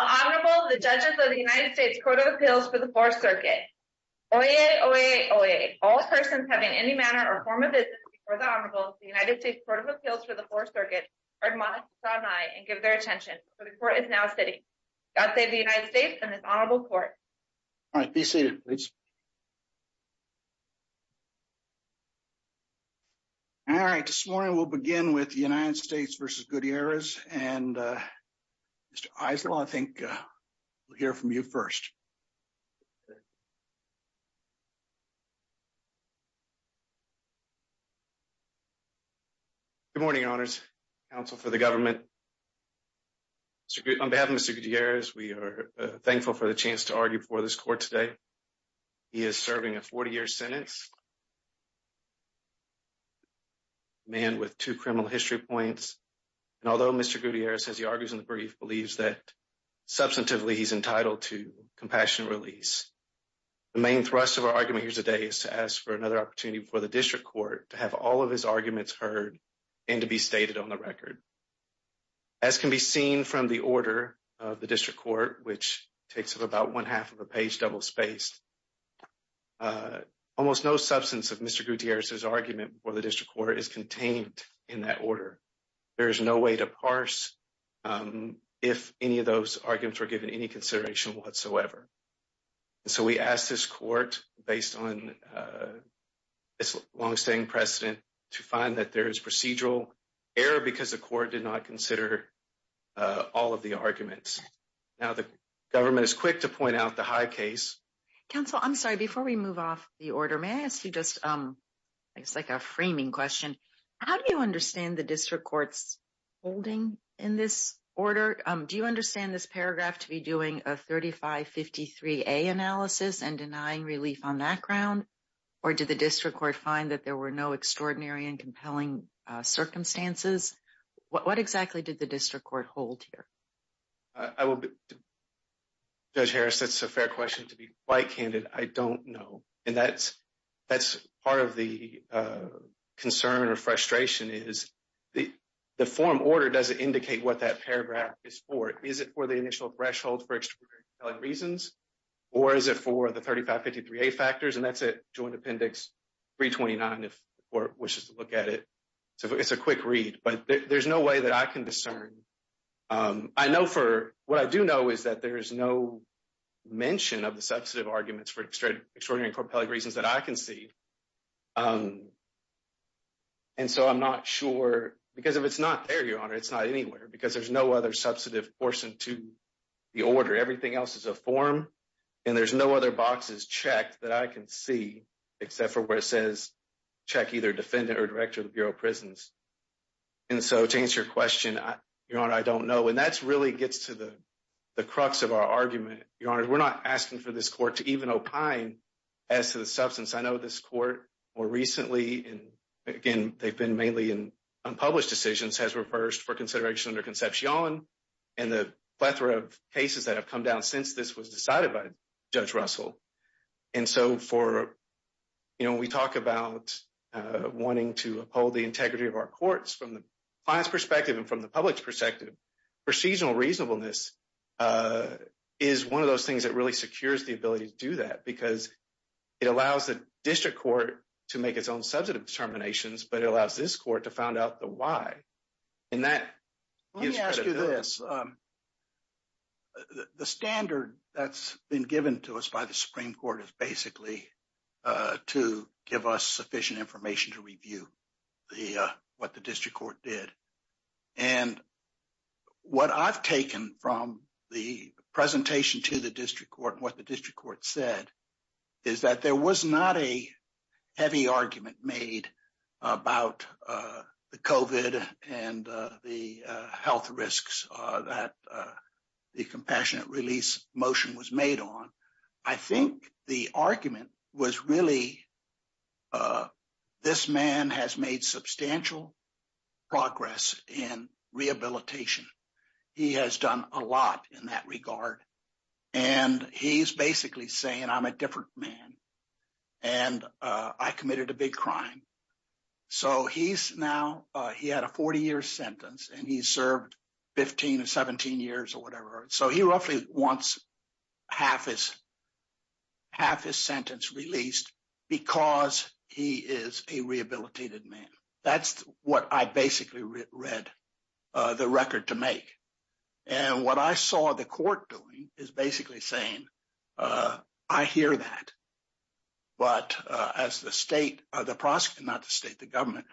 Honorable, the judges of the United States Court of Appeals for the Fourth Circuit. Oyez, oyez, oyez. All persons having any manner or form of business before the Honorable of the United States Court of Appeals for the Fourth Circuit are admonished to stand by and give their attention, for the Court is now sitting. God save the United States and this Honorable Court. All right, be seated, please. All right, this morning we'll begin with the United States v. Gutierrez, and Mr. Aizel, I think we'll hear from you first. Good morning, honors, counsel for the government. On behalf of Mr. Gutierrez, we are thankful for the chance to argue for this court today. He is serving a 40-year sentence, a man with two criminal history points. And although Mr. Gutierrez, as he argues in the brief, believes that substantively he's entitled to compassionate release, the main thrust of our argument here today is to ask for another opportunity for the district court to have all of his arguments heard and to be stated on the record. As can be seen from the order of the district court, which takes up about one half of a page double spaced, almost no substance of Mr. Gutierrez's argument for the district court is contained in that order. There is no way to parse if any of those arguments were given any consideration whatsoever. So, we asked this court, based on its long-standing precedent, to find that there is procedural error because the court did not consider all of the arguments. Now, the government is quick to point out the high case. Counsel, I'm sorry, before we move off the order, may I ask you just, it's like a framing question. How do you understand the district court's holding in this order? Do you understand this paragraph to be doing a 3553A analysis and denying relief on that ground? Or did the district court find that there were no extraordinary and compelling circumstances? What exactly did the district court hold here? I will, Judge Harris, that's a fair question to be quite candid. I don't know. And that's part of the concern or frustration is the form order doesn't indicate what that paragraph is for. Is it for the initial threshold for extraordinary and compelling reasons? Or is it for the 3553A factors? And that's a joint appendix 329 if the court wishes to look at it. So, it's a quick read, but there's no way that I can discern. I know for, what I do know is that there is no mention of the substantive arguments for extraordinary and compelling reasons that I can see. And so, I'm not sure because if it's not there, Your Honor, it's not anywhere because there's no other substantive portion to the order. Everything else is a form and there's no other boxes checked that I can see except for where it says, check either defendant or director of the district court. And so, to answer your question, Your Honor, I don't know. And that's really gets to the crux of our argument. Your Honor, we're not asking for this court to even opine as to the substance. I know this court more recently, and again, they've been mainly in unpublished decisions has reversed for consideration under conception and the plethora of cases that have come down since this was decided by Judge Russell. And so, when we talk about wanting to uphold the courts from the client's perspective and from the public's perspective, procedural reasonableness is one of those things that really secures the ability to do that because it allows the district court to make its own substantive determinations, but it allows this court to find out the why. And that gives credit to this. Let me ask you this. The standard that's been given to us by the Supreme Court is basically to give us sufficient information to review what the district court did. And what I've taken from the presentation to the district court and what the district court said is that there was not a heavy argument made about the COVID and the health risks that the compassionate release motion was made on. I think the argument was really, this man has made substantial progress in rehabilitation. He has done a lot in that regard. And he's basically saying, I'm a different man and I committed a big crime. So, he's now, he had a 40-year sentence and he wants half his sentence released because he is a rehabilitated man. That's what I basically read the record to make. And what I saw the court doing is basically saying, I hear that. But as the state, not the state, the government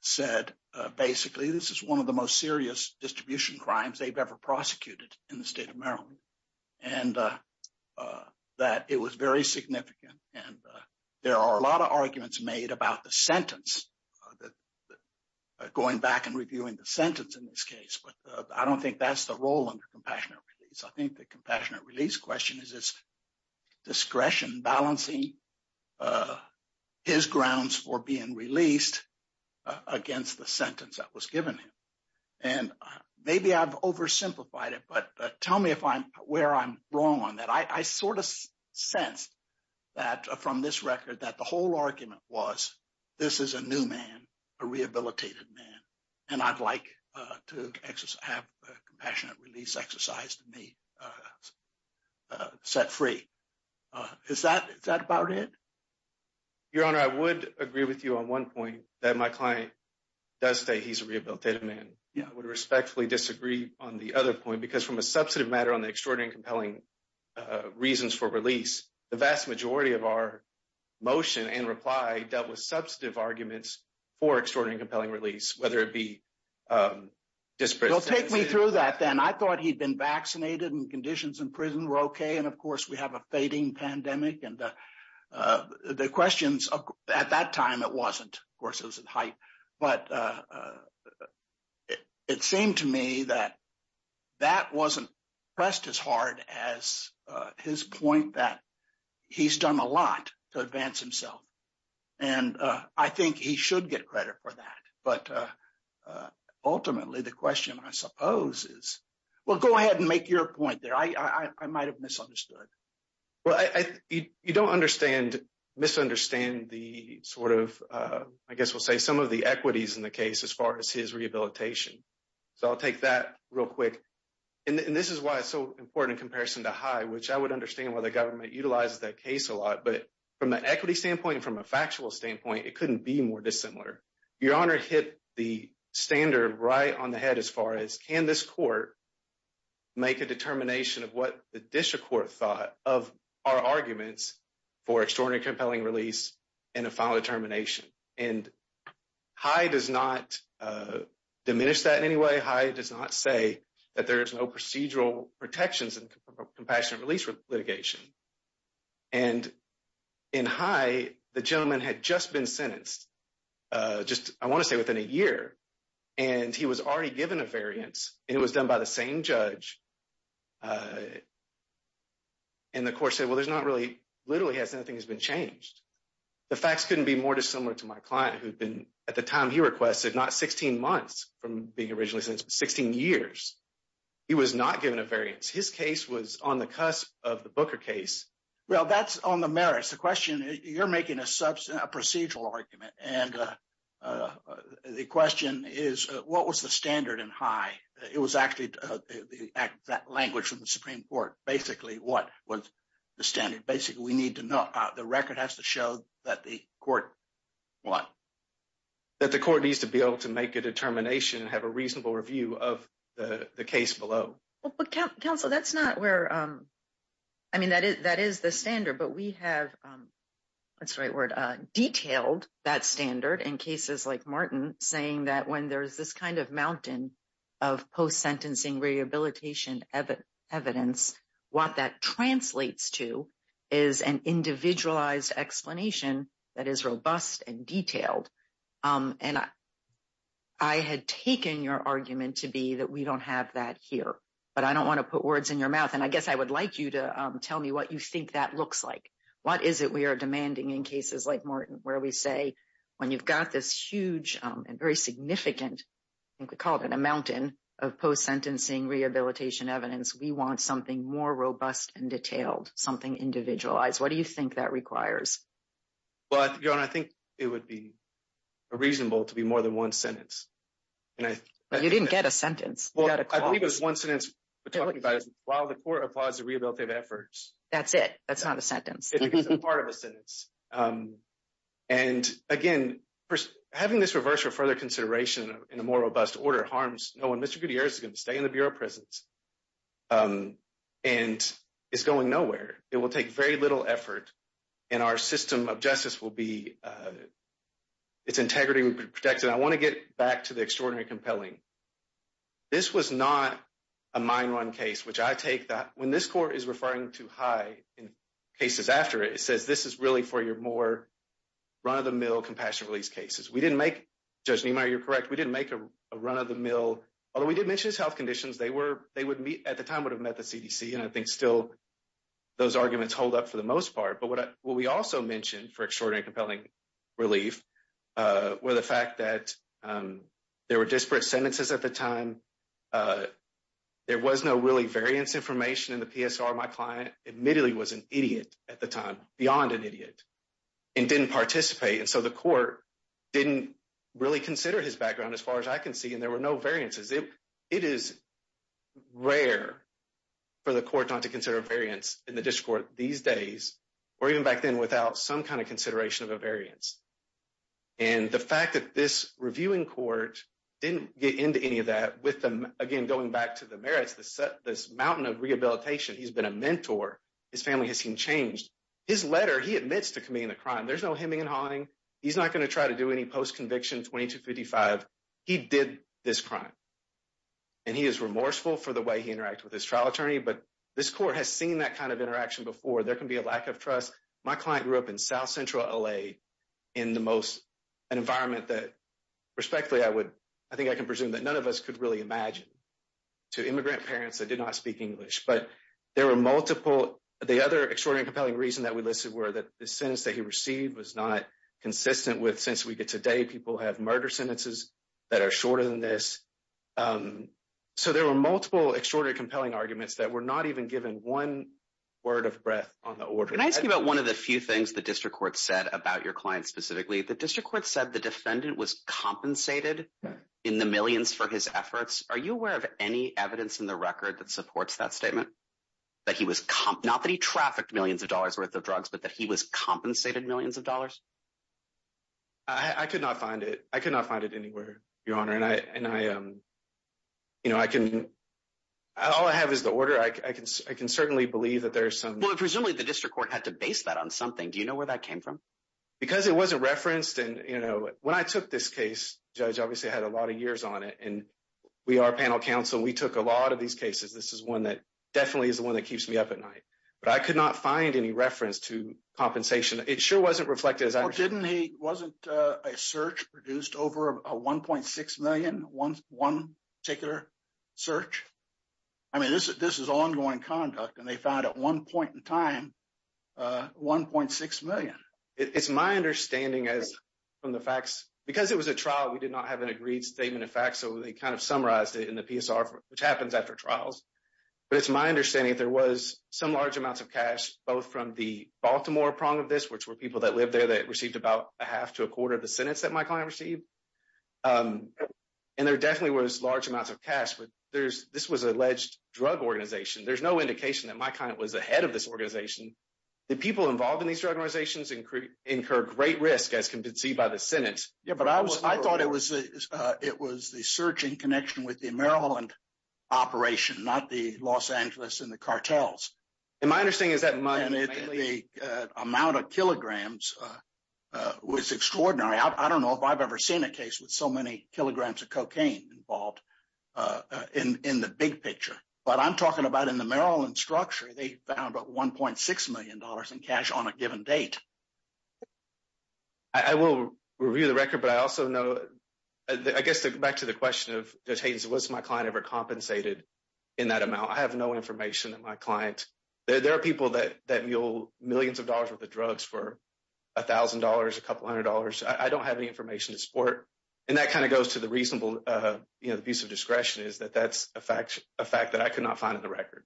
said, basically, this is one of the most serious distribution crimes they've ever prosecuted in the state of Maryland. And that it was very significant. And there are a lot of arguments made about the sentence, going back and reviewing the sentence in this case. But I don't think that's the role under compassionate release. I think the compassionate release question is discretion balancing his grounds for being released against the sentence that was given him. And maybe I've oversimplified it, but tell me where I'm wrong on that. I sort of sensed that from this record, that the whole argument was, this is a new man, a rehabilitated man. And I'd like to have compassionate release exercise to me set free. Is that about it? Your Honor, I would agree with you on one point, that my client does say he's a rehabilitated man. I would respectfully disagree on the other point, because from a substantive matter on the extraordinary and compelling reasons for release, the vast majority of our motion and reply dealt with substantive arguments for extraordinary and compelling release, whether it be disparate sentences. Well, take me through that then. I thought he'd been vaccinated and conditions in prison were okay. And of course, we have a fading pandemic. And the questions at that time, it wasn't. Of course, it was in height. But it seemed to me that that wasn't pressed as hard as his point that he's done a lot to advance himself. And I think he should get credit for that. But ultimately, the question I suppose is, well, go ahead and make your point there. I might have misunderstood. Well, you don't misunderstand the sort of, I guess we'll say some of the equities in the case as far as his rehabilitation. So, I'll take that real quick. And this is why it's so important in comparison to high, which I would understand why the government utilizes that case a lot. But from an equity standpoint, from a factual standpoint, it couldn't be more dissimilar. Your Honor hit the standard right on the head as far as can this court make a determination of what the district court thought of our arguments for extraordinary compelling release and a final determination. And high does not diminish that in any way. High does not say that there is no procedural protections in compassionate release litigation. And in high, the gentleman had just been sentenced just, I want to say within a year. And he was already given a variance, and it was done by the same judge. And the court said, well, there's not really, literally hasn't anything has been changed. The facts couldn't be more dissimilar to my client who'd been, at the time he requested, not 16 months from being originally sentenced, but 16 years. He was not given a variance. His case was on the cusp of the Booker case. Well, that's on the merits. The question, you're making a procedural argument. And the question is, what was the standard in high? It was actually that language from the Supreme Court. Basically, what was the standard? Basically, the record has to show that the court, what? That the court needs to be able to make a determination and have a reasonable review of the case below. Well, but counsel, that's not where, I mean, that is the standard. But we have, that's the right word, detailed that standard in cases like Martin, saying that when there's this kind of mountain of post-sentencing rehabilitation evidence, what that translates to is an individualized explanation that is robust and detailed. And I had taken your argument to be that we don't have that here, but I don't want to put words in your mouth. And I guess I would like you to tell me what you think that looks like. What is it we are demanding in cases like Martin, where we say, when you've got this huge and very evidence, we want something more robust and detailed, something individualized. What do you think that requires? Well, I think it would be reasonable to be more than one sentence. You didn't get a sentence. Well, I believe it was one sentence. We're talking about while the court applies the rehabilitative efforts. That's it. That's not a sentence. It is a part of a sentence. And again, having this reverse or further consideration in a more robust way. And it's going nowhere. It will take very little effort. And our system of justice will be, it's integrity will be protected. I want to get back to the extraordinary compelling. This was not a mine run case, which I take that when this court is referring to high in cases after it, it says, this is really for your more run of the mill compassion release cases. We didn't make, Judge Niemeyer, you're correct. We didn't make a run of the mill. Although we did mention his health conditions, they would at the time would have met the CDC. And I think still those arguments hold up for the most part. But what we also mentioned for extraordinary compelling relief were the fact that there were disparate sentences at the time. There was no really variance information in the PSR. My client admittedly was an idiot at the time, beyond an idiot, and didn't participate. And so the court didn't really consider his It is rare for the court not to consider variance in the district court these days, or even back then without some kind of consideration of a variance. And the fact that this reviewing court didn't get into any of that with them, again, going back to the merits, this mountain of rehabilitation, he's been a mentor. His family has seen changed. His letter, he admits to committing the crime. There's no hemming and hawing. He's not going to try to do any post conviction 2255. He did this crime. And he is remorseful for the way he interacted with his trial attorney. But this court has seen that kind of interaction before there can be a lack of trust. My client grew up in South Central LA, in the most an environment that, respectfully, I would, I think I can presume that none of us could really imagine to immigrant parents that did not speak English. But there were multiple. The other extraordinary compelling reason that we listed were that the sentence that he received was not consistent with since we get today, people have murder sentences that are shorter than this. So there were multiple extraordinary compelling arguments that were not even given one word of breath on the order. Can I ask you about one of the few things the district court said about your client specifically? The district court said the defendant was compensated in the millions for his efforts. Are you aware of any evidence in the record that supports that statement? That he was not that he trafficked millions of dollars worth of drugs, but that he was compensated millions of dollars? I could not find it. I could not find it anywhere, Your Honor. And I, and I, you know, I can, all I have is the order. I can, I can certainly believe that there's some. Well, presumably the district court had to base that on something. Do you know where that came from? Because it wasn't referenced. And, you know, when I took this case, judge obviously had a lot of years on it and we are panel counsel. We took a lot of these cases. This is one that definitely is the one that keeps me up at night, but I could not find any reference to compensation. It sure wasn't reflected as I didn't. He wasn't a search produced over a 1.6 million, one, one particular search. I mean, this is ongoing conduct and they found at one point in time, 1.6 million. It's my understanding as from the facts, because it was a trial, we did not have an agreed statement of facts. So they kind of summarized it in the PSR, which happens after trials. But it's my understanding that there was some large amounts of cash, both from the Baltimore prong of this, which were people that lived there that received about a half to a quarter of the sentence that my client received. And there definitely was large amounts of cash, but there's, this was alleged drug organization. There's no indication that my client was ahead of this organization. The people involved in these organizations incur great risk as can be seen by the sentence. Yeah, but I was, I thought it was, it was the search in connection with the Maryland operation, not the Los Angeles and the Miami. And the amount of kilograms was extraordinary. I don't know if I've ever seen a case with so many kilograms of cocaine involved in the big picture, but I'm talking about in the Maryland structure, they found about $1.6 million in cash on a given date. I will review the record, but I also know, I guess back to the question of, does Hayden's, was my client ever compensated in that amount? I have no information that my client, there are people that mule millions of dollars worth of drugs for $1,000, a couple hundred dollars. I don't have any information to support. And that kind of goes to the reasonable, you know, the piece of discretion is that that's a fact that I could not find in the record.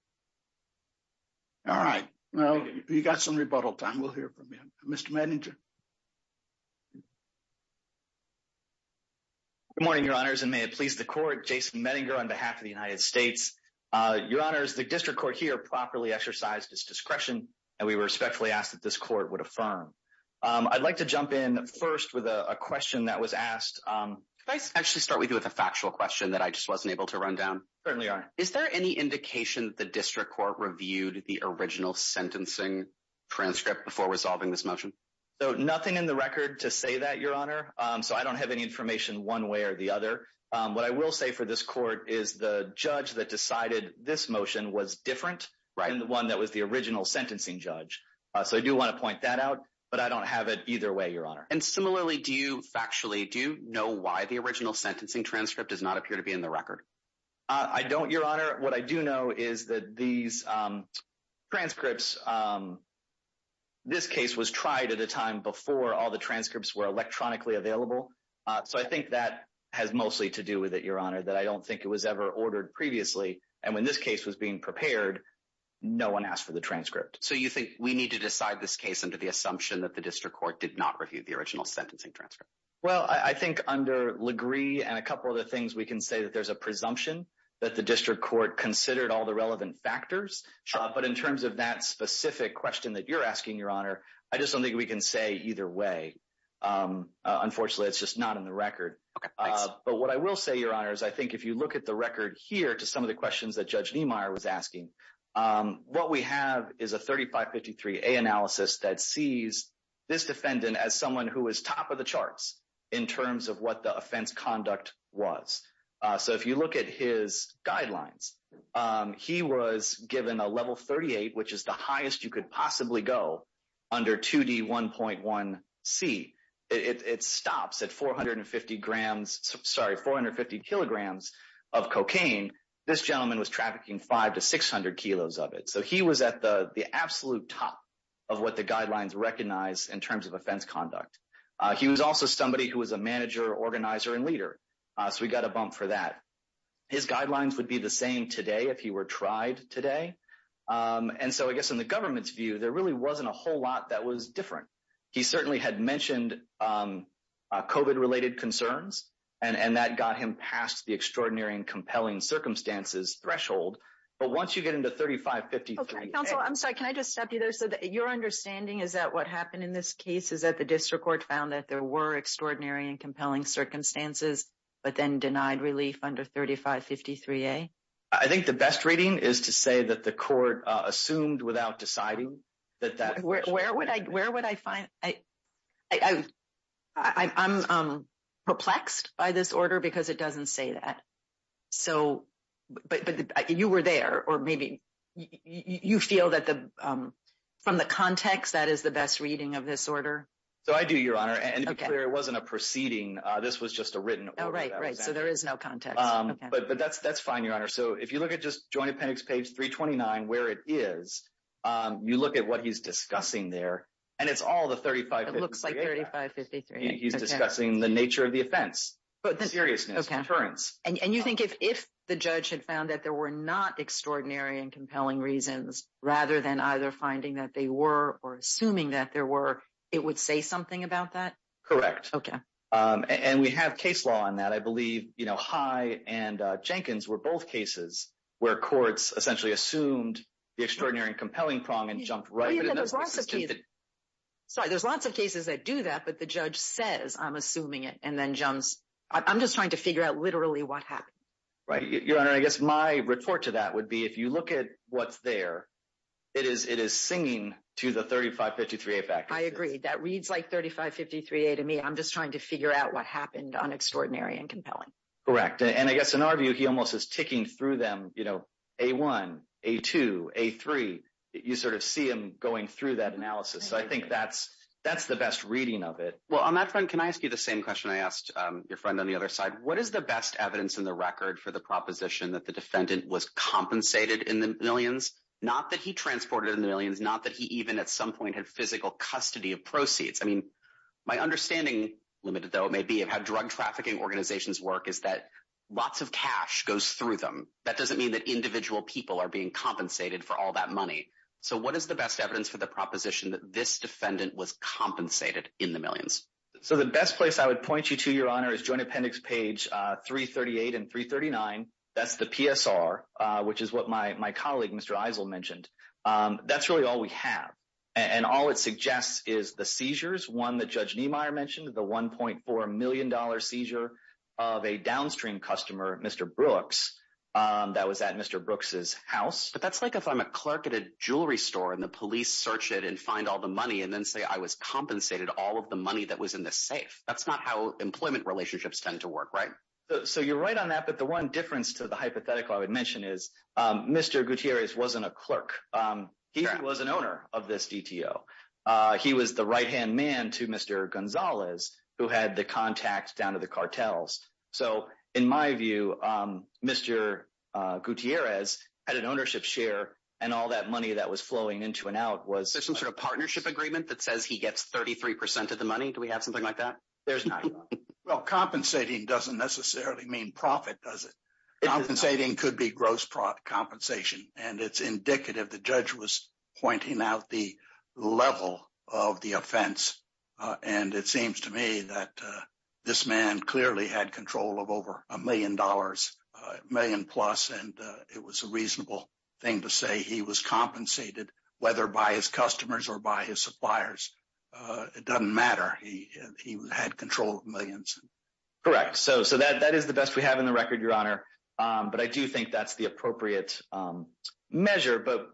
All right. Well, you got some rebuttal time. We'll hear from you, Mr. Medinger. Good morning, your honors. And may it please the court, Jason Medinger on behalf of the United States. Your honors, the district court here properly exercised its discretion, and we respectfully ask that this court would affirm. I'd like to jump in first with a question that was asked. Could I actually start with you with a factual question that I just wasn't able to run down? Certainly, your honor. Is there any indication that the district court reviewed the original sentencing transcript before resolving this motion? So nothing in the record to say that your honor. So I don't have any information one way or the other. What I will say for this court is the judge that decided this motion was different than the one that was the original sentencing judge. So I do want to point that out, but I don't have it either way, your honor. And similarly, do you factually do know why the original sentencing transcript does not appear to be in the record? I don't, your honor. What I do know is that these transcripts, this case was tried at a time before all the transcripts were electronically available. So I think that has mostly to do with it, your honor, that I don't think it was ever ordered previously. And when this case was being prepared, no one asked for the transcript. So you think we need to decide this case under the assumption that the district court did not review the original sentencing transcript? Well, I think under Legree and a couple of the things, we can say that there's a presumption that the district court considered all the relevant factors. But in terms of that specific question that you're asking, your honor, I just don't think we can say either way. Unfortunately, it's just not in the record. But what I will say, your honor, is I think if you look at the record here to some of the questions that Judge Niemeyer was asking, what we have is a 3553A analysis that sees this defendant as someone who is top of the charts in terms of what the offense conduct was. So if you look at his guidelines, he was given a go under 2D1.1C. It stops at 450 grams, sorry, 450 kilograms of cocaine. This gentleman was trafficking 500 to 600 kilos of it. So he was at the absolute top of what the guidelines recognize in terms of offense conduct. He was also somebody who was a manager, organizer, and leader. So we got a bump for that. His guidelines would be the same today if he were tried today. And so I guess in the government's view, there really wasn't a whole lot that was different. He certainly had mentioned COVID-related concerns, and that got him past the extraordinary and compelling circumstances threshold. But once you get into 3553A- Okay, counsel, I'm sorry. Can I just stop you there? So your understanding is that what happened in this case is that the district court found that there were extraordinary and compelling circumstances, but then denied relief under 3553A? I think the best reading is to say that the court assumed without deciding that that- Where would I find... I'm perplexed by this order because it doesn't say that. So, but you were there, or maybe you feel that from the context, that is the best reading of this order? So I do, Your Honor. And to be clear, it wasn't a proceeding. This was just a written order. Oh, right, right. So there is no context. Okay. That's fine, Your Honor. So if you look at just Joint Appendix page 329, where it is, you look at what he's discussing there, and it's all the 3553A- It looks like 3553. He's discussing the nature of the offense, but the seriousness of deterrence. And you think if the judge had found that there were not extraordinary and compelling reasons, rather than either finding that they were or assuming that there were, it would say something about that? Correct. Okay. And we have case law on that. I believe High and Jenkins were both cases where courts essentially assumed the extraordinary and compelling prong and jumped right- Sorry, there's lots of cases that do that, but the judge says, I'm assuming it, and then jumps. I'm just trying to figure out literally what happened. Right. Your Honor, I guess my report to that would be, if you look at what's there, it is singing to the 3553A factor. I agree. That reads like 3553A to me. I'm just trying to figure out what happened on extraordinary and compelling. Correct. And I guess in our view, he almost is ticking through them, A1, A2, A3. You see him going through that analysis. So I think that's the best reading of it. Well, on that front, can I ask you the same question I asked your friend on the other side? What is the best evidence in the record for the proposition that the defendant was compensated in the millions? Not that he transported in the millions, not that he even at some point had physical custody of proceeds. I mean, my understanding, limited though it may be, of how drug trafficking organizations work is that lots of cash goes through them. That doesn't mean that individual people are being compensated for all that money. So what is the best evidence for the proposition that this defendant was compensated in the millions? So the best place I would point you to, Your Honor, is Joint Appendix page 338 and 339. That's the PSR, which is what my colleague, Mr. Eisel, mentioned. That's really all we have. And all it suggests is the seizures, one that Judge Niemeyer mentioned, the $1.4 million seizure of a downstream customer, Mr. Brooks, that was at Mr. Brooks's house. But that's like if I'm a clerk at a jewelry store and the police search it and find all the money and then say I was compensated all of the money that was in the safe. That's not how employment relationships tend to work, right? So you're right on that. The one difference to the hypothetical I would mention is Mr. Gutierrez wasn't a clerk. He was an owner of this DTO. He was the right-hand man to Mr. Gonzalez, who had the contacts down to the cartels. So in my view, Mr. Gutierrez had an ownership share and all that money that was flowing into and out was- There's some sort of partnership agreement that says he gets 33% of the money? Do we have something like that? There's not. Well, compensating doesn't necessarily mean profit, does it? Compensating could be gross compensation. And it's indicative the judge was pointing out the level of the offense. And it seems to me that this man clearly had control of over a million dollars, a million plus, and it was a reasonable thing to say he was compensated, whether by his customers or by his suppliers. It doesn't matter. He had control of millions. Correct. So that is the best we have in the record, Your Honor. But I do think that's the appropriate measure. But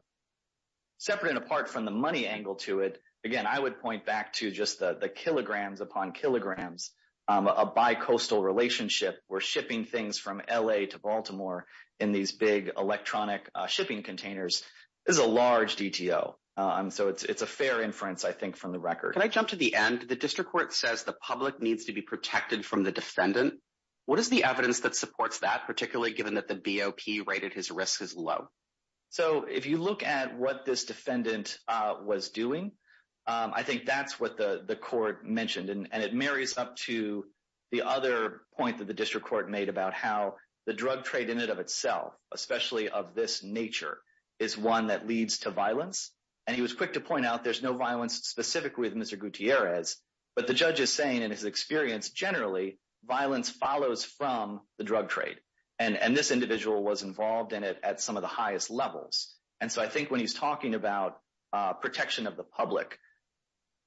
separate and apart from the money angle to it, again, I would point back to just the kilograms upon kilograms, a bi-coastal relationship where shipping things from LA to Baltimore in these big electronic shipping containers is a large DTO. And so it's a fair inference, I think, from the record. Can I jump to the end? The district court says the public needs to be protected from the defendant. What is the evidence that supports that, particularly given that the BOP rated his risk as low? So if you look at what this defendant was doing, I think that's what the court mentioned. And it marries up to the other point that the district court made about how the drug trade in and of itself, especially of this nature, is one that leads to violence. And he was quick to point out there's no violence specific with Mr. Gutierrez. But the judge is saying in his experience, generally, violence follows from the drug trade. And this individual was involved in it at some of the highest levels. And so I think when he's talking about protection of the public,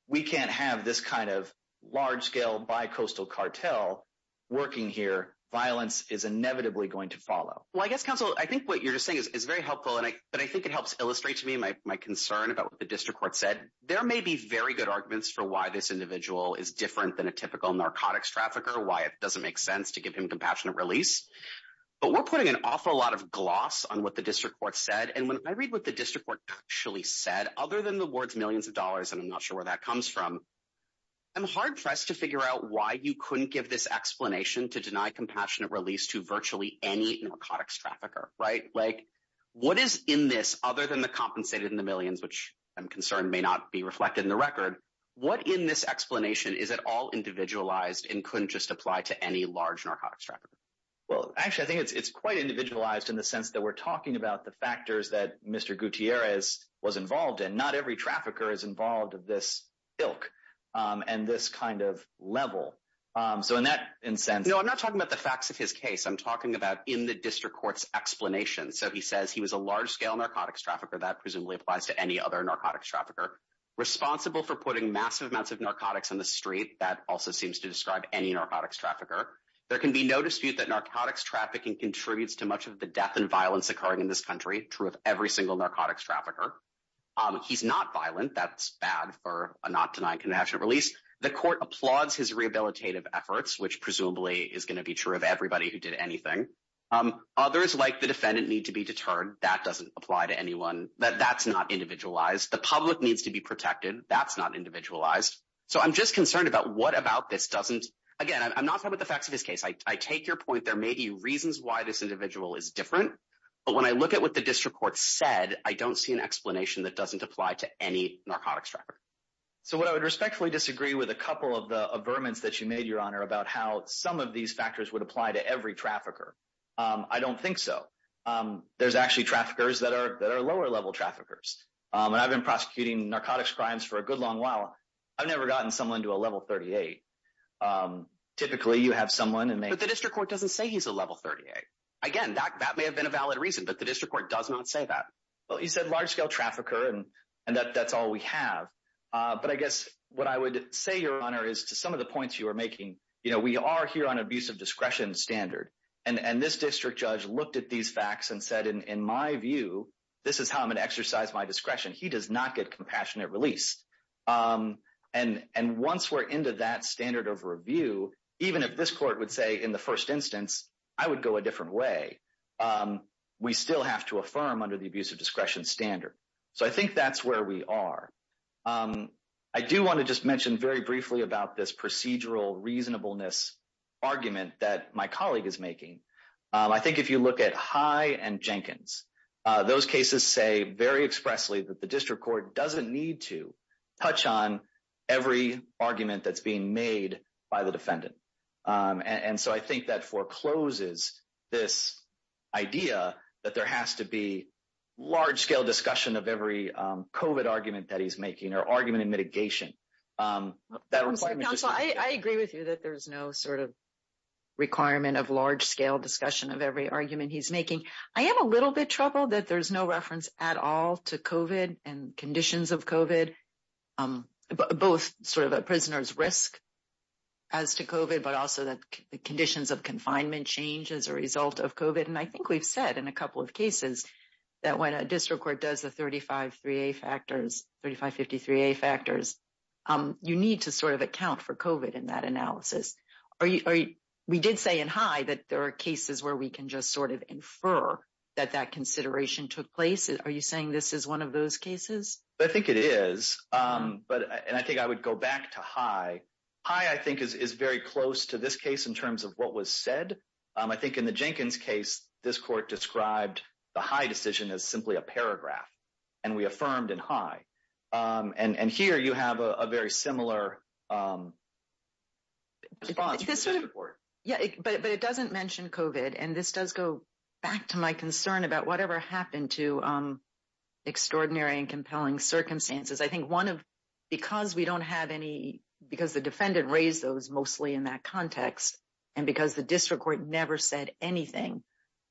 we can't have this kind of large-scale bi-coastal cartel working here. Violence is inevitably going to follow. Well, I guess, counsel, I think what you're just saying is very helpful. But I think it helps illustrate to me my concern about what said. There may be very good arguments for why this individual is different than a typical narcotics trafficker, why it doesn't make sense to give him compassionate release. But we're putting an awful lot of gloss on what the district court said. And when I read what the district court actually said, other than the words millions of dollars, and I'm not sure where that comes from, I'm hard-pressed to figure out why you couldn't give this explanation to deny compassionate release to virtually any narcotics trafficker, right? Like, what is in this other than the compensated and the millions, which I'm concerned may not be reflected in the record, what in this explanation is at all individualized and couldn't just apply to any large narcotics trafficker? Well, actually, I think it's quite individualized in the sense that we're talking about the factors that Mr. Gutierrez was involved in. Not every trafficker is involved at this ilk and this kind of level. So in that sense... No, I'm not talking about the facts of his case. I'm talking about in the district court's explanation. So he says he was a large-scale narcotics trafficker, that presumably applies to any other narcotics trafficker, responsible for putting massive amounts of narcotics on the street, that also seems to describe any narcotics trafficker. There can be no dispute that narcotics trafficking contributes to much of the death and violence occurring in this country, true of every single narcotics trafficker. He's not violent, that's bad for a not-denying compassionate release. The court applauds his rehabilitative efforts, which presumably is going to be true of everybody who did anything. Others, like the defendant, need to be deterred. That doesn't apply to anyone. That's not individualized. The public needs to be protected. That's not individualized. So I'm just concerned about what about this doesn't... Again, I'm not talking about the facts of his case. I take your point. There may be reasons why this individual is different. But when I look at what the district court said, I don't see an explanation that doesn't apply to any narcotics trafficker. So what I would respectfully disagree with a couple of the averments that you made, Your Honor, about how some of these factors would apply to every trafficker. I don't think so. There's actually traffickers that are lower-level traffickers. And I've been prosecuting narcotics crimes for a good long while. I've never gotten someone to a level 38. Typically, you have someone and they... But the district court doesn't say he's a level 38. Again, that may have been a valid reason, but the district court does not say that. Well, he said large-scale trafficker and that's all we have. But I guess what I would say, Your Honor, is to some of the points you are making, we are here on an abuse of discretion standard. And this district judge looked at these facts and said, in my view, this is how I'm going to exercise my discretion. He does not get compassionate release. And once we're into that standard of review, even if this court would say in the first instance, I would go a different way, we still have to affirm under the abuse of discretion standard. So I think that's where we are. I do want to just mention very briefly about this procedural reasonableness argument that my colleague is making. I think if you look at High and Jenkins, those cases say very expressly that the district court doesn't need to touch on every argument that's being made by the defendant. And so I think that forecloses this idea that there has to be large-scale discussion of every COVID argument that he's that there's no sort of requirement of large-scale discussion of every argument he's making. I am a little bit troubled that there's no reference at all to COVID and conditions of COVID, both sort of a prisoner's risk as to COVID, but also that the conditions of confinement change as a result of COVID. And I think we've said in a couple of cases that when a district court does the 3553A factors, you need to sort of account for COVID in that analysis. We did say in High that there are cases where we can just sort of infer that that consideration took place. Are you saying this is one of those cases? I think it is. And I think I would go back to High. High, I think, is very close to this case in terms of what was said. I think in the Jenkins case, this court described the High decision as simply a paragraph, and we affirmed in High. And here, you have a very similar response from the district court. Yeah, but it doesn't mention COVID, and this does go back to my concern about whatever happened to extraordinary and compelling circumstances. I think one of, because we don't have any, because the defendant raised those mostly in that context, and because the district court never said anything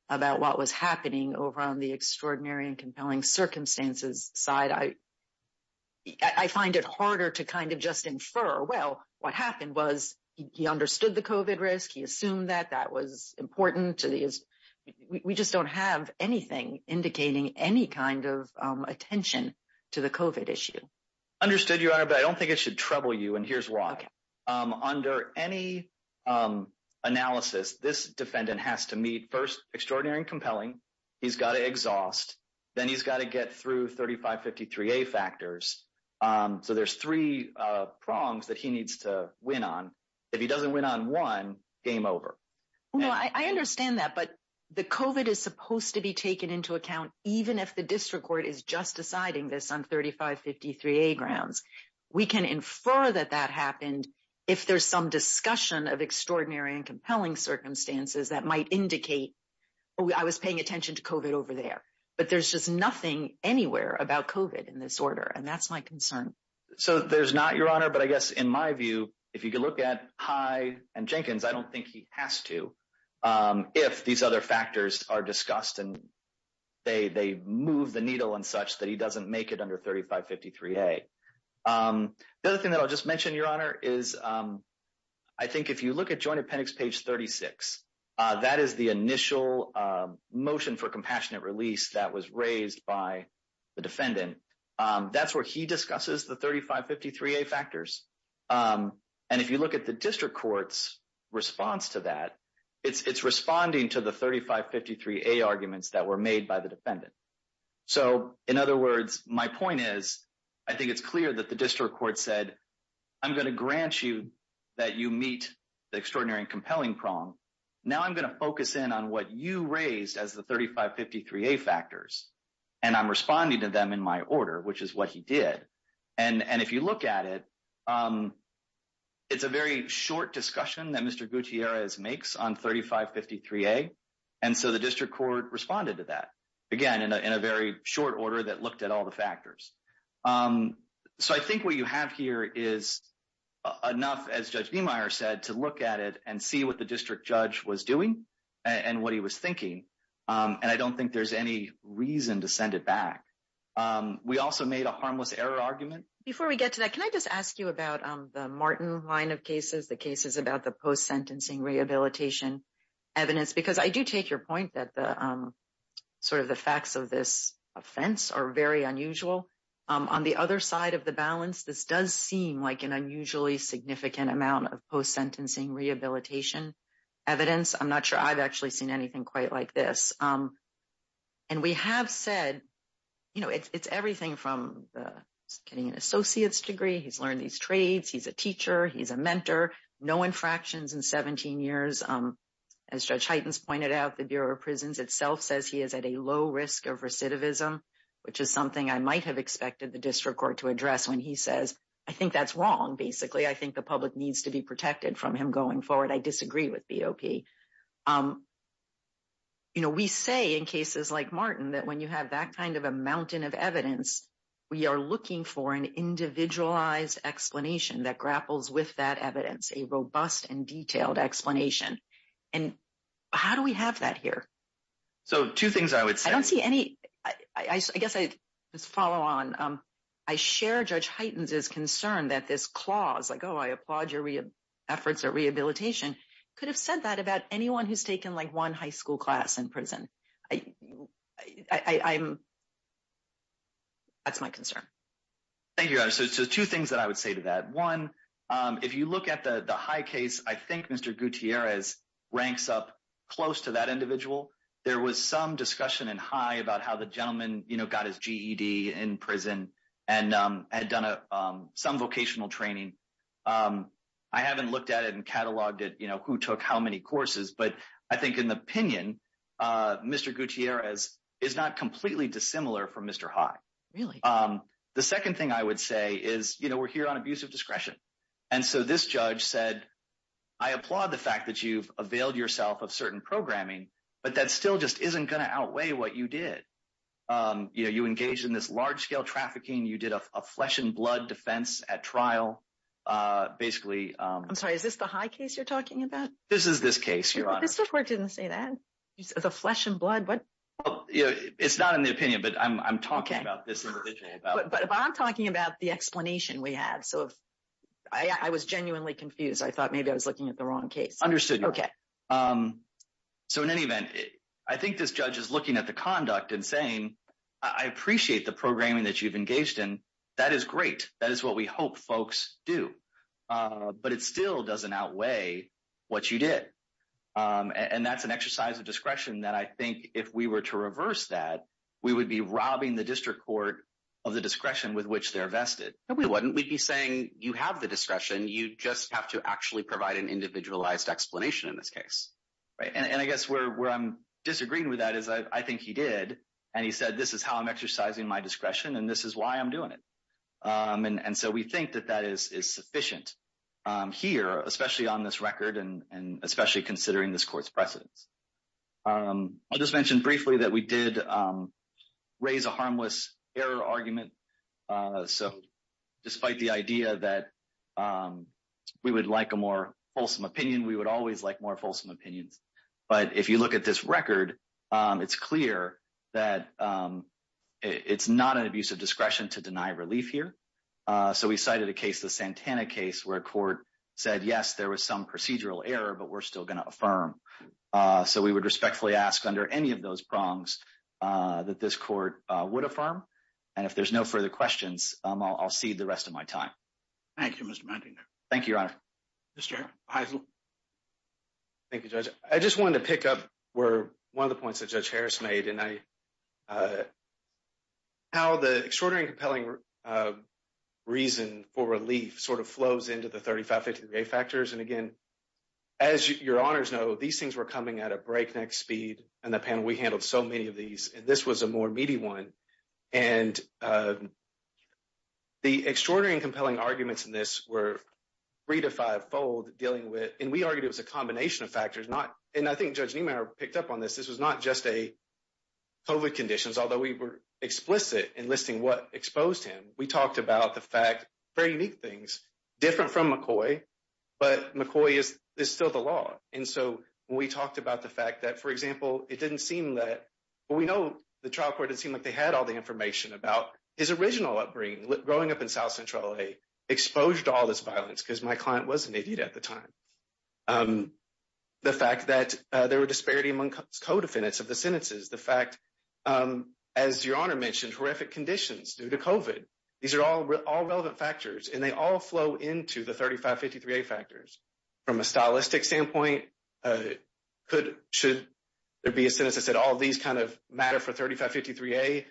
about what was happening over on the extraordinary and compelling circumstances side, I find it harder to kind of just infer, well, what happened was he understood the COVID risk, he assumed that that was important. We just don't have anything indicating any kind of attention to the COVID issue. Understood, Your Honor, but I don't think it should trouble you, and here's why. Under any analysis, this defendant has to meet first extraordinary and compelling, he's got to exhaust, then he's got to get through 3553A factors. So there's three prongs that he needs to win on. If he doesn't win on one, game over. No, I understand that, but the COVID is supposed to be taken into account even if the district court is just deciding this on 3553A grounds. We can infer that that happened if there's some discussion of extraordinary and indicate I was paying attention to COVID over there, but there's just nothing anywhere about COVID in this order, and that's my concern. So there's not, Your Honor, but I guess in my view, if you could look at High and Jenkins, I don't think he has to if these other factors are discussed and they move the needle and such that he doesn't make it under 3553A. The other thing that I'll just mention, Your Honor, is I think if you look at Joint Appendix page 36, that is the initial motion for compassionate release that was raised by the defendant. That's where he discusses the 3553A factors. And if you look at the district court's response to that, it's responding to the 3553A arguments that were made by the defendant. So in other words, my point is I think it's clear that the district court said, I'm going to grant you that you meet the extraordinary and compelling prong. Now I'm going to focus in on what you raised as the 3553A factors, and I'm responding to them in my order, which is what he did. And if you look at it, it's a very short discussion that Mr. Gutierrez makes on 3553A, and so the district court responded to that, again, in a very short order that looked at all the factors. So I think what you have here is enough, as Judge Niemeyer said, to look at it and see what the district judge was doing and what he was thinking. And I don't think there's any reason to send it back. We also made a harmless error argument. Before we get to that, can I just ask you about the Martin line of cases, the cases about the post-sentencing rehabilitation evidence? Because I do take your point that the facts of this offense are very unusual. On the other side of the balance, this does seem like an unusually significant amount of post-sentencing rehabilitation evidence. I'm not sure I've actually seen anything quite like this. And we have said, you know, it's everything from getting an associate's degree, he's learned these trades, he's a teacher, he's a mentor, no infractions in 17 years. As Judge Heitens pointed out, the Bureau of Prisons itself says he is at a low risk of recidivism, which is something I might have expected the district court to address when he says, I think that's wrong, basically. I think the public needs to be protected from him going forward. I disagree with BOP. You know, we say in cases like Martin that when you have that kind of a mountain of evidence, we are looking for an individualized explanation that grapples with that evidence, a robust and detailed explanation. And how do we have that here? So, two things I would say. I don't see any, I guess I just follow on. I share Judge Heitens' concern that this clause, like, oh, I applaud your efforts at rehabilitation, could have said that about anyone who's taken like one high school class in prison. That's my concern. Thank you, Your Honor. So, two things that I would say to that. One, if you look at the high I think Mr. Gutierrez ranks up close to that individual. There was some discussion in High about how the gentleman, you know, got his GED in prison and had done some vocational training. I haven't looked at it and cataloged it, you know, who took how many courses, but I think in the opinion, Mr. Gutierrez is not completely dissimilar from Mr. High. Really? The second thing I would say is, you know, we're here on abuse of discretion. And so, this judge said, I applaud the fact that you've availed yourself of certain programming, but that still just isn't going to outweigh what you did. You know, you engaged in this large-scale trafficking. You did a flesh and blood defense at trial, basically. I'm sorry, is this the High case you're talking about? This is this case, Your Honor. This report didn't say that. The flesh and blood, what? It's not in the opinion, but I'm talking about this individual. But I'm talking about the explanation we have. So, I was genuinely confused. I thought maybe I was looking at the wrong case. Understood. Okay. So, in any event, I think this judge is looking at the conduct and saying, I appreciate the programming that you've engaged in. That is great. That is what we hope folks do. But it still doesn't outweigh what you did. And that's an exercise of discretion that I think if we were to reverse that, we would be robbing the district court of the discretion with which they're vested. No, we wouldn't. We'd be saying, you have the discretion. You just have to actually provide an individualized explanation in this case. Right? And I guess where I'm disagreeing with that is I think he did. And he said, this is how I'm exercising my discretion, and this is why I'm doing it. And so, we think that that is sufficient here, especially on this record, and especially considering this court's precedence. I'll just mention briefly that we did raise a harmless error argument. So, despite the idea that we would like a more fulsome opinion, we would always like more fulsome opinions. But if you look at this record, it's clear that it's not an abuse of discretion to deny relief here. So, we cited a case, the Santana case, where a court said, yes, there was some procedural error, but we're still going to affirm. So, we would respectfully ask under any of those prongs that this court would affirm. And if there's no further questions, I'll cede the rest of my time. Thank you, Mr. Mantegna. Thank you, Your Honor. Mr. Heisel. Thank you, Judge. I just wanted to pick up one of the points that Judge Harris made, and how the extraordinary and compelling reason for relief sort of flows into the 35-50-day factors. And again, as Your Honors know, these things were coming at a breakneck speed in the panel. We handled so many of these, and this was a more meaty one. And the extraordinary and compelling arguments in this were three to five-fold dealing with, and we argued it was a combination of factors, not, and I think Judge Niemeyer picked up on this. This was not just a COVID conditions, although we were explicit in listing what exposed him. We talked about the fact, very unique things, different from McCoy, but McCoy is still the law. And so, when we talked about the fact that, for example, it didn't seem that, well, we know the trial court didn't seem like they had all the information about his original upbringing, growing up in South Central LA, exposed to all this violence, because my client was an idiot at the time. The fact that there were disparity among co-defendants of the sentences. The fact, as Your Honor mentioned, horrific conditions due to COVID. These are all relevant factors, and they all flow into the 35-50-3A factors. From a stylistic standpoint, should there be a sentence that said all these matter for 35-50-3A,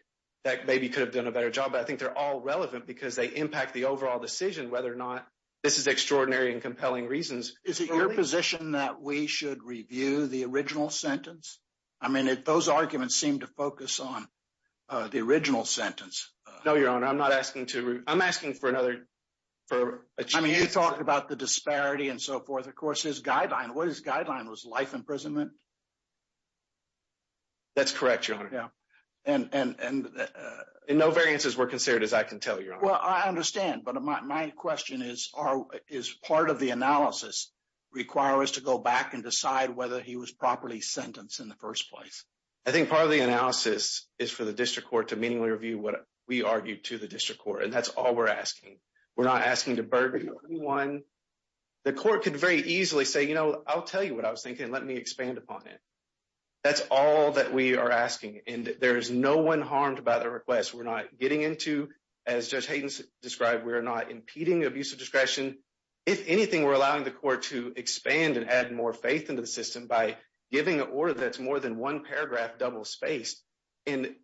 that maybe could have done a better job. But I think they're all relevant because they impact the overall decision whether or not this is extraordinary and compelling reasons. Is it your position that we should review the original sentence? I mean, those arguments seem to focus on the original sentence. No, Your Honor. I'm not asking to... I'm asking for another... I mean, you talked about the disparity and so forth. Of course, his guideline, what his guideline was life imprisonment. That's correct, Your Honor. I understand. But my question is, is part of the analysis require us to go back and decide whether he was properly sentenced in the first place? I think part of the analysis is for the district court to meaningfully review what we argued to the district court. And that's all we're asking. We're not asking to burden anyone. The court could very easily say, I'll tell you what I was thinking. Let me expand upon it. That's all that we are asking. And there is no one harmed by the request. We're not getting into as Judge Hayden described, we're not impeding abusive discretion. If anything, we're allowing the court to expand and add more faith into the system by giving an order that's more than one paragraph double spaced. And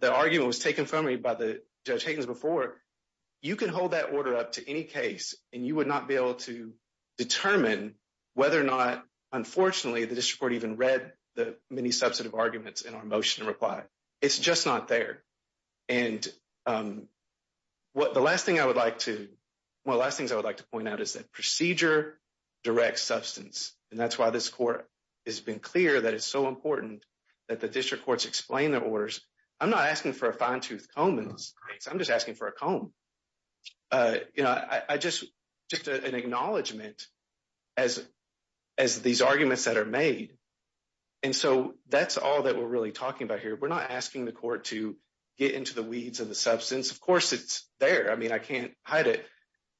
the argument was taken from me by the Judge Hayden before, you can hold that order up to any case and you would not be able to determine whether or not, unfortunately, the district court even read the many substantive arguments in our motion reply. It's just not there. And one of the last things I would like to point out is that procedure directs substance. And that's why this court has been clear that it's so important that the district courts explain their orders. I'm not asking for a fine tooth comb in this case. I'm just asking for a comb. Just an acknowledgement as these arguments that are made. And so that's all that we're really talking about here. We're not asking the court to get into the weeds of the substance. Of course, it's there. I mean, I can't hide it.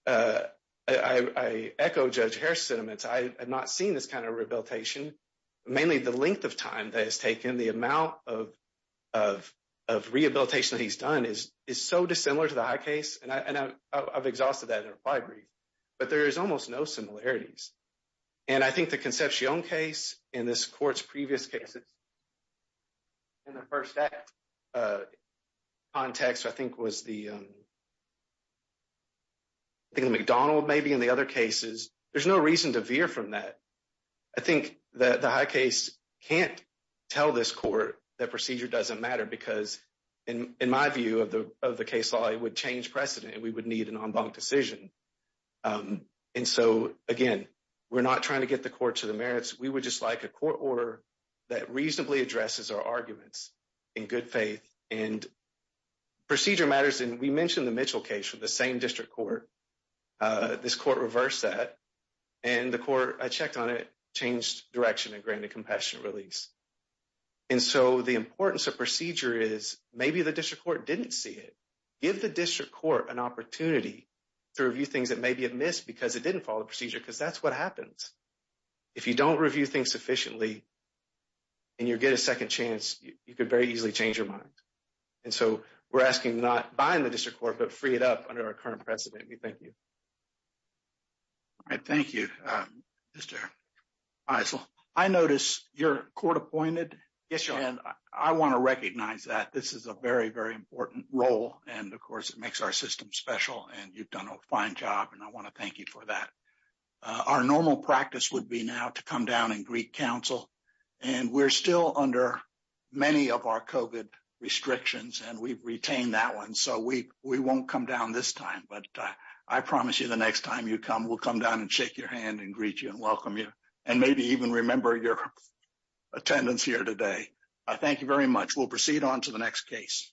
I echo Judge Harris sentiments. I have not seen this kind of rehabilitation, mainly the length of time that is taken, the amount of rehabilitation that he's done is so dissimilar to the high case. And I've exhausted that in reply brief, but there is almost no similarities. And I think the conceptual case in this court's previous cases, in the first act context, I think was the McDonnell maybe in the other cases. There's no reason to veer from that. I think that the high case can't tell this court that procedure doesn't matter because in my view of the case law, it would change precedent and we would need an en banc decision. And so again, we're not trying to get the court to the merits. We would just like a court order that reasonably addresses our arguments in good faith and procedure matters. And we mentioned the Mitchell case with the same district court. This court reversed that and the court, I checked on it, changed direction and granted compassionate release. And so the importance of procedure is maybe the district court didn't see it. Give the district court an opportunity to review things that maybe it missed because it didn't follow the procedure because that's what happens. If you don't review things sufficiently and you get a second chance, you could very easily change your mind. And so we're asking not buying the district court, but free it up under our current precedent. We thank you. All right. Thank you, Mr. Faisal. I notice you're court appointed. Yes, Your Honor. And I want to recognize that this is a very, very important role. And of course, it makes our system special and you've done a fine job. And I want to thank you for that. Our normal practice would be now to come down and greet counsel. And we're still under many of our COVID restrictions and we've retained that one. So we won't come down this time, but I promise you the next time you come, we'll come down and shake your hand and greet you and welcome you. And maybe even remember your attendance here today. Thank you very much. We'll proceed on to the next case.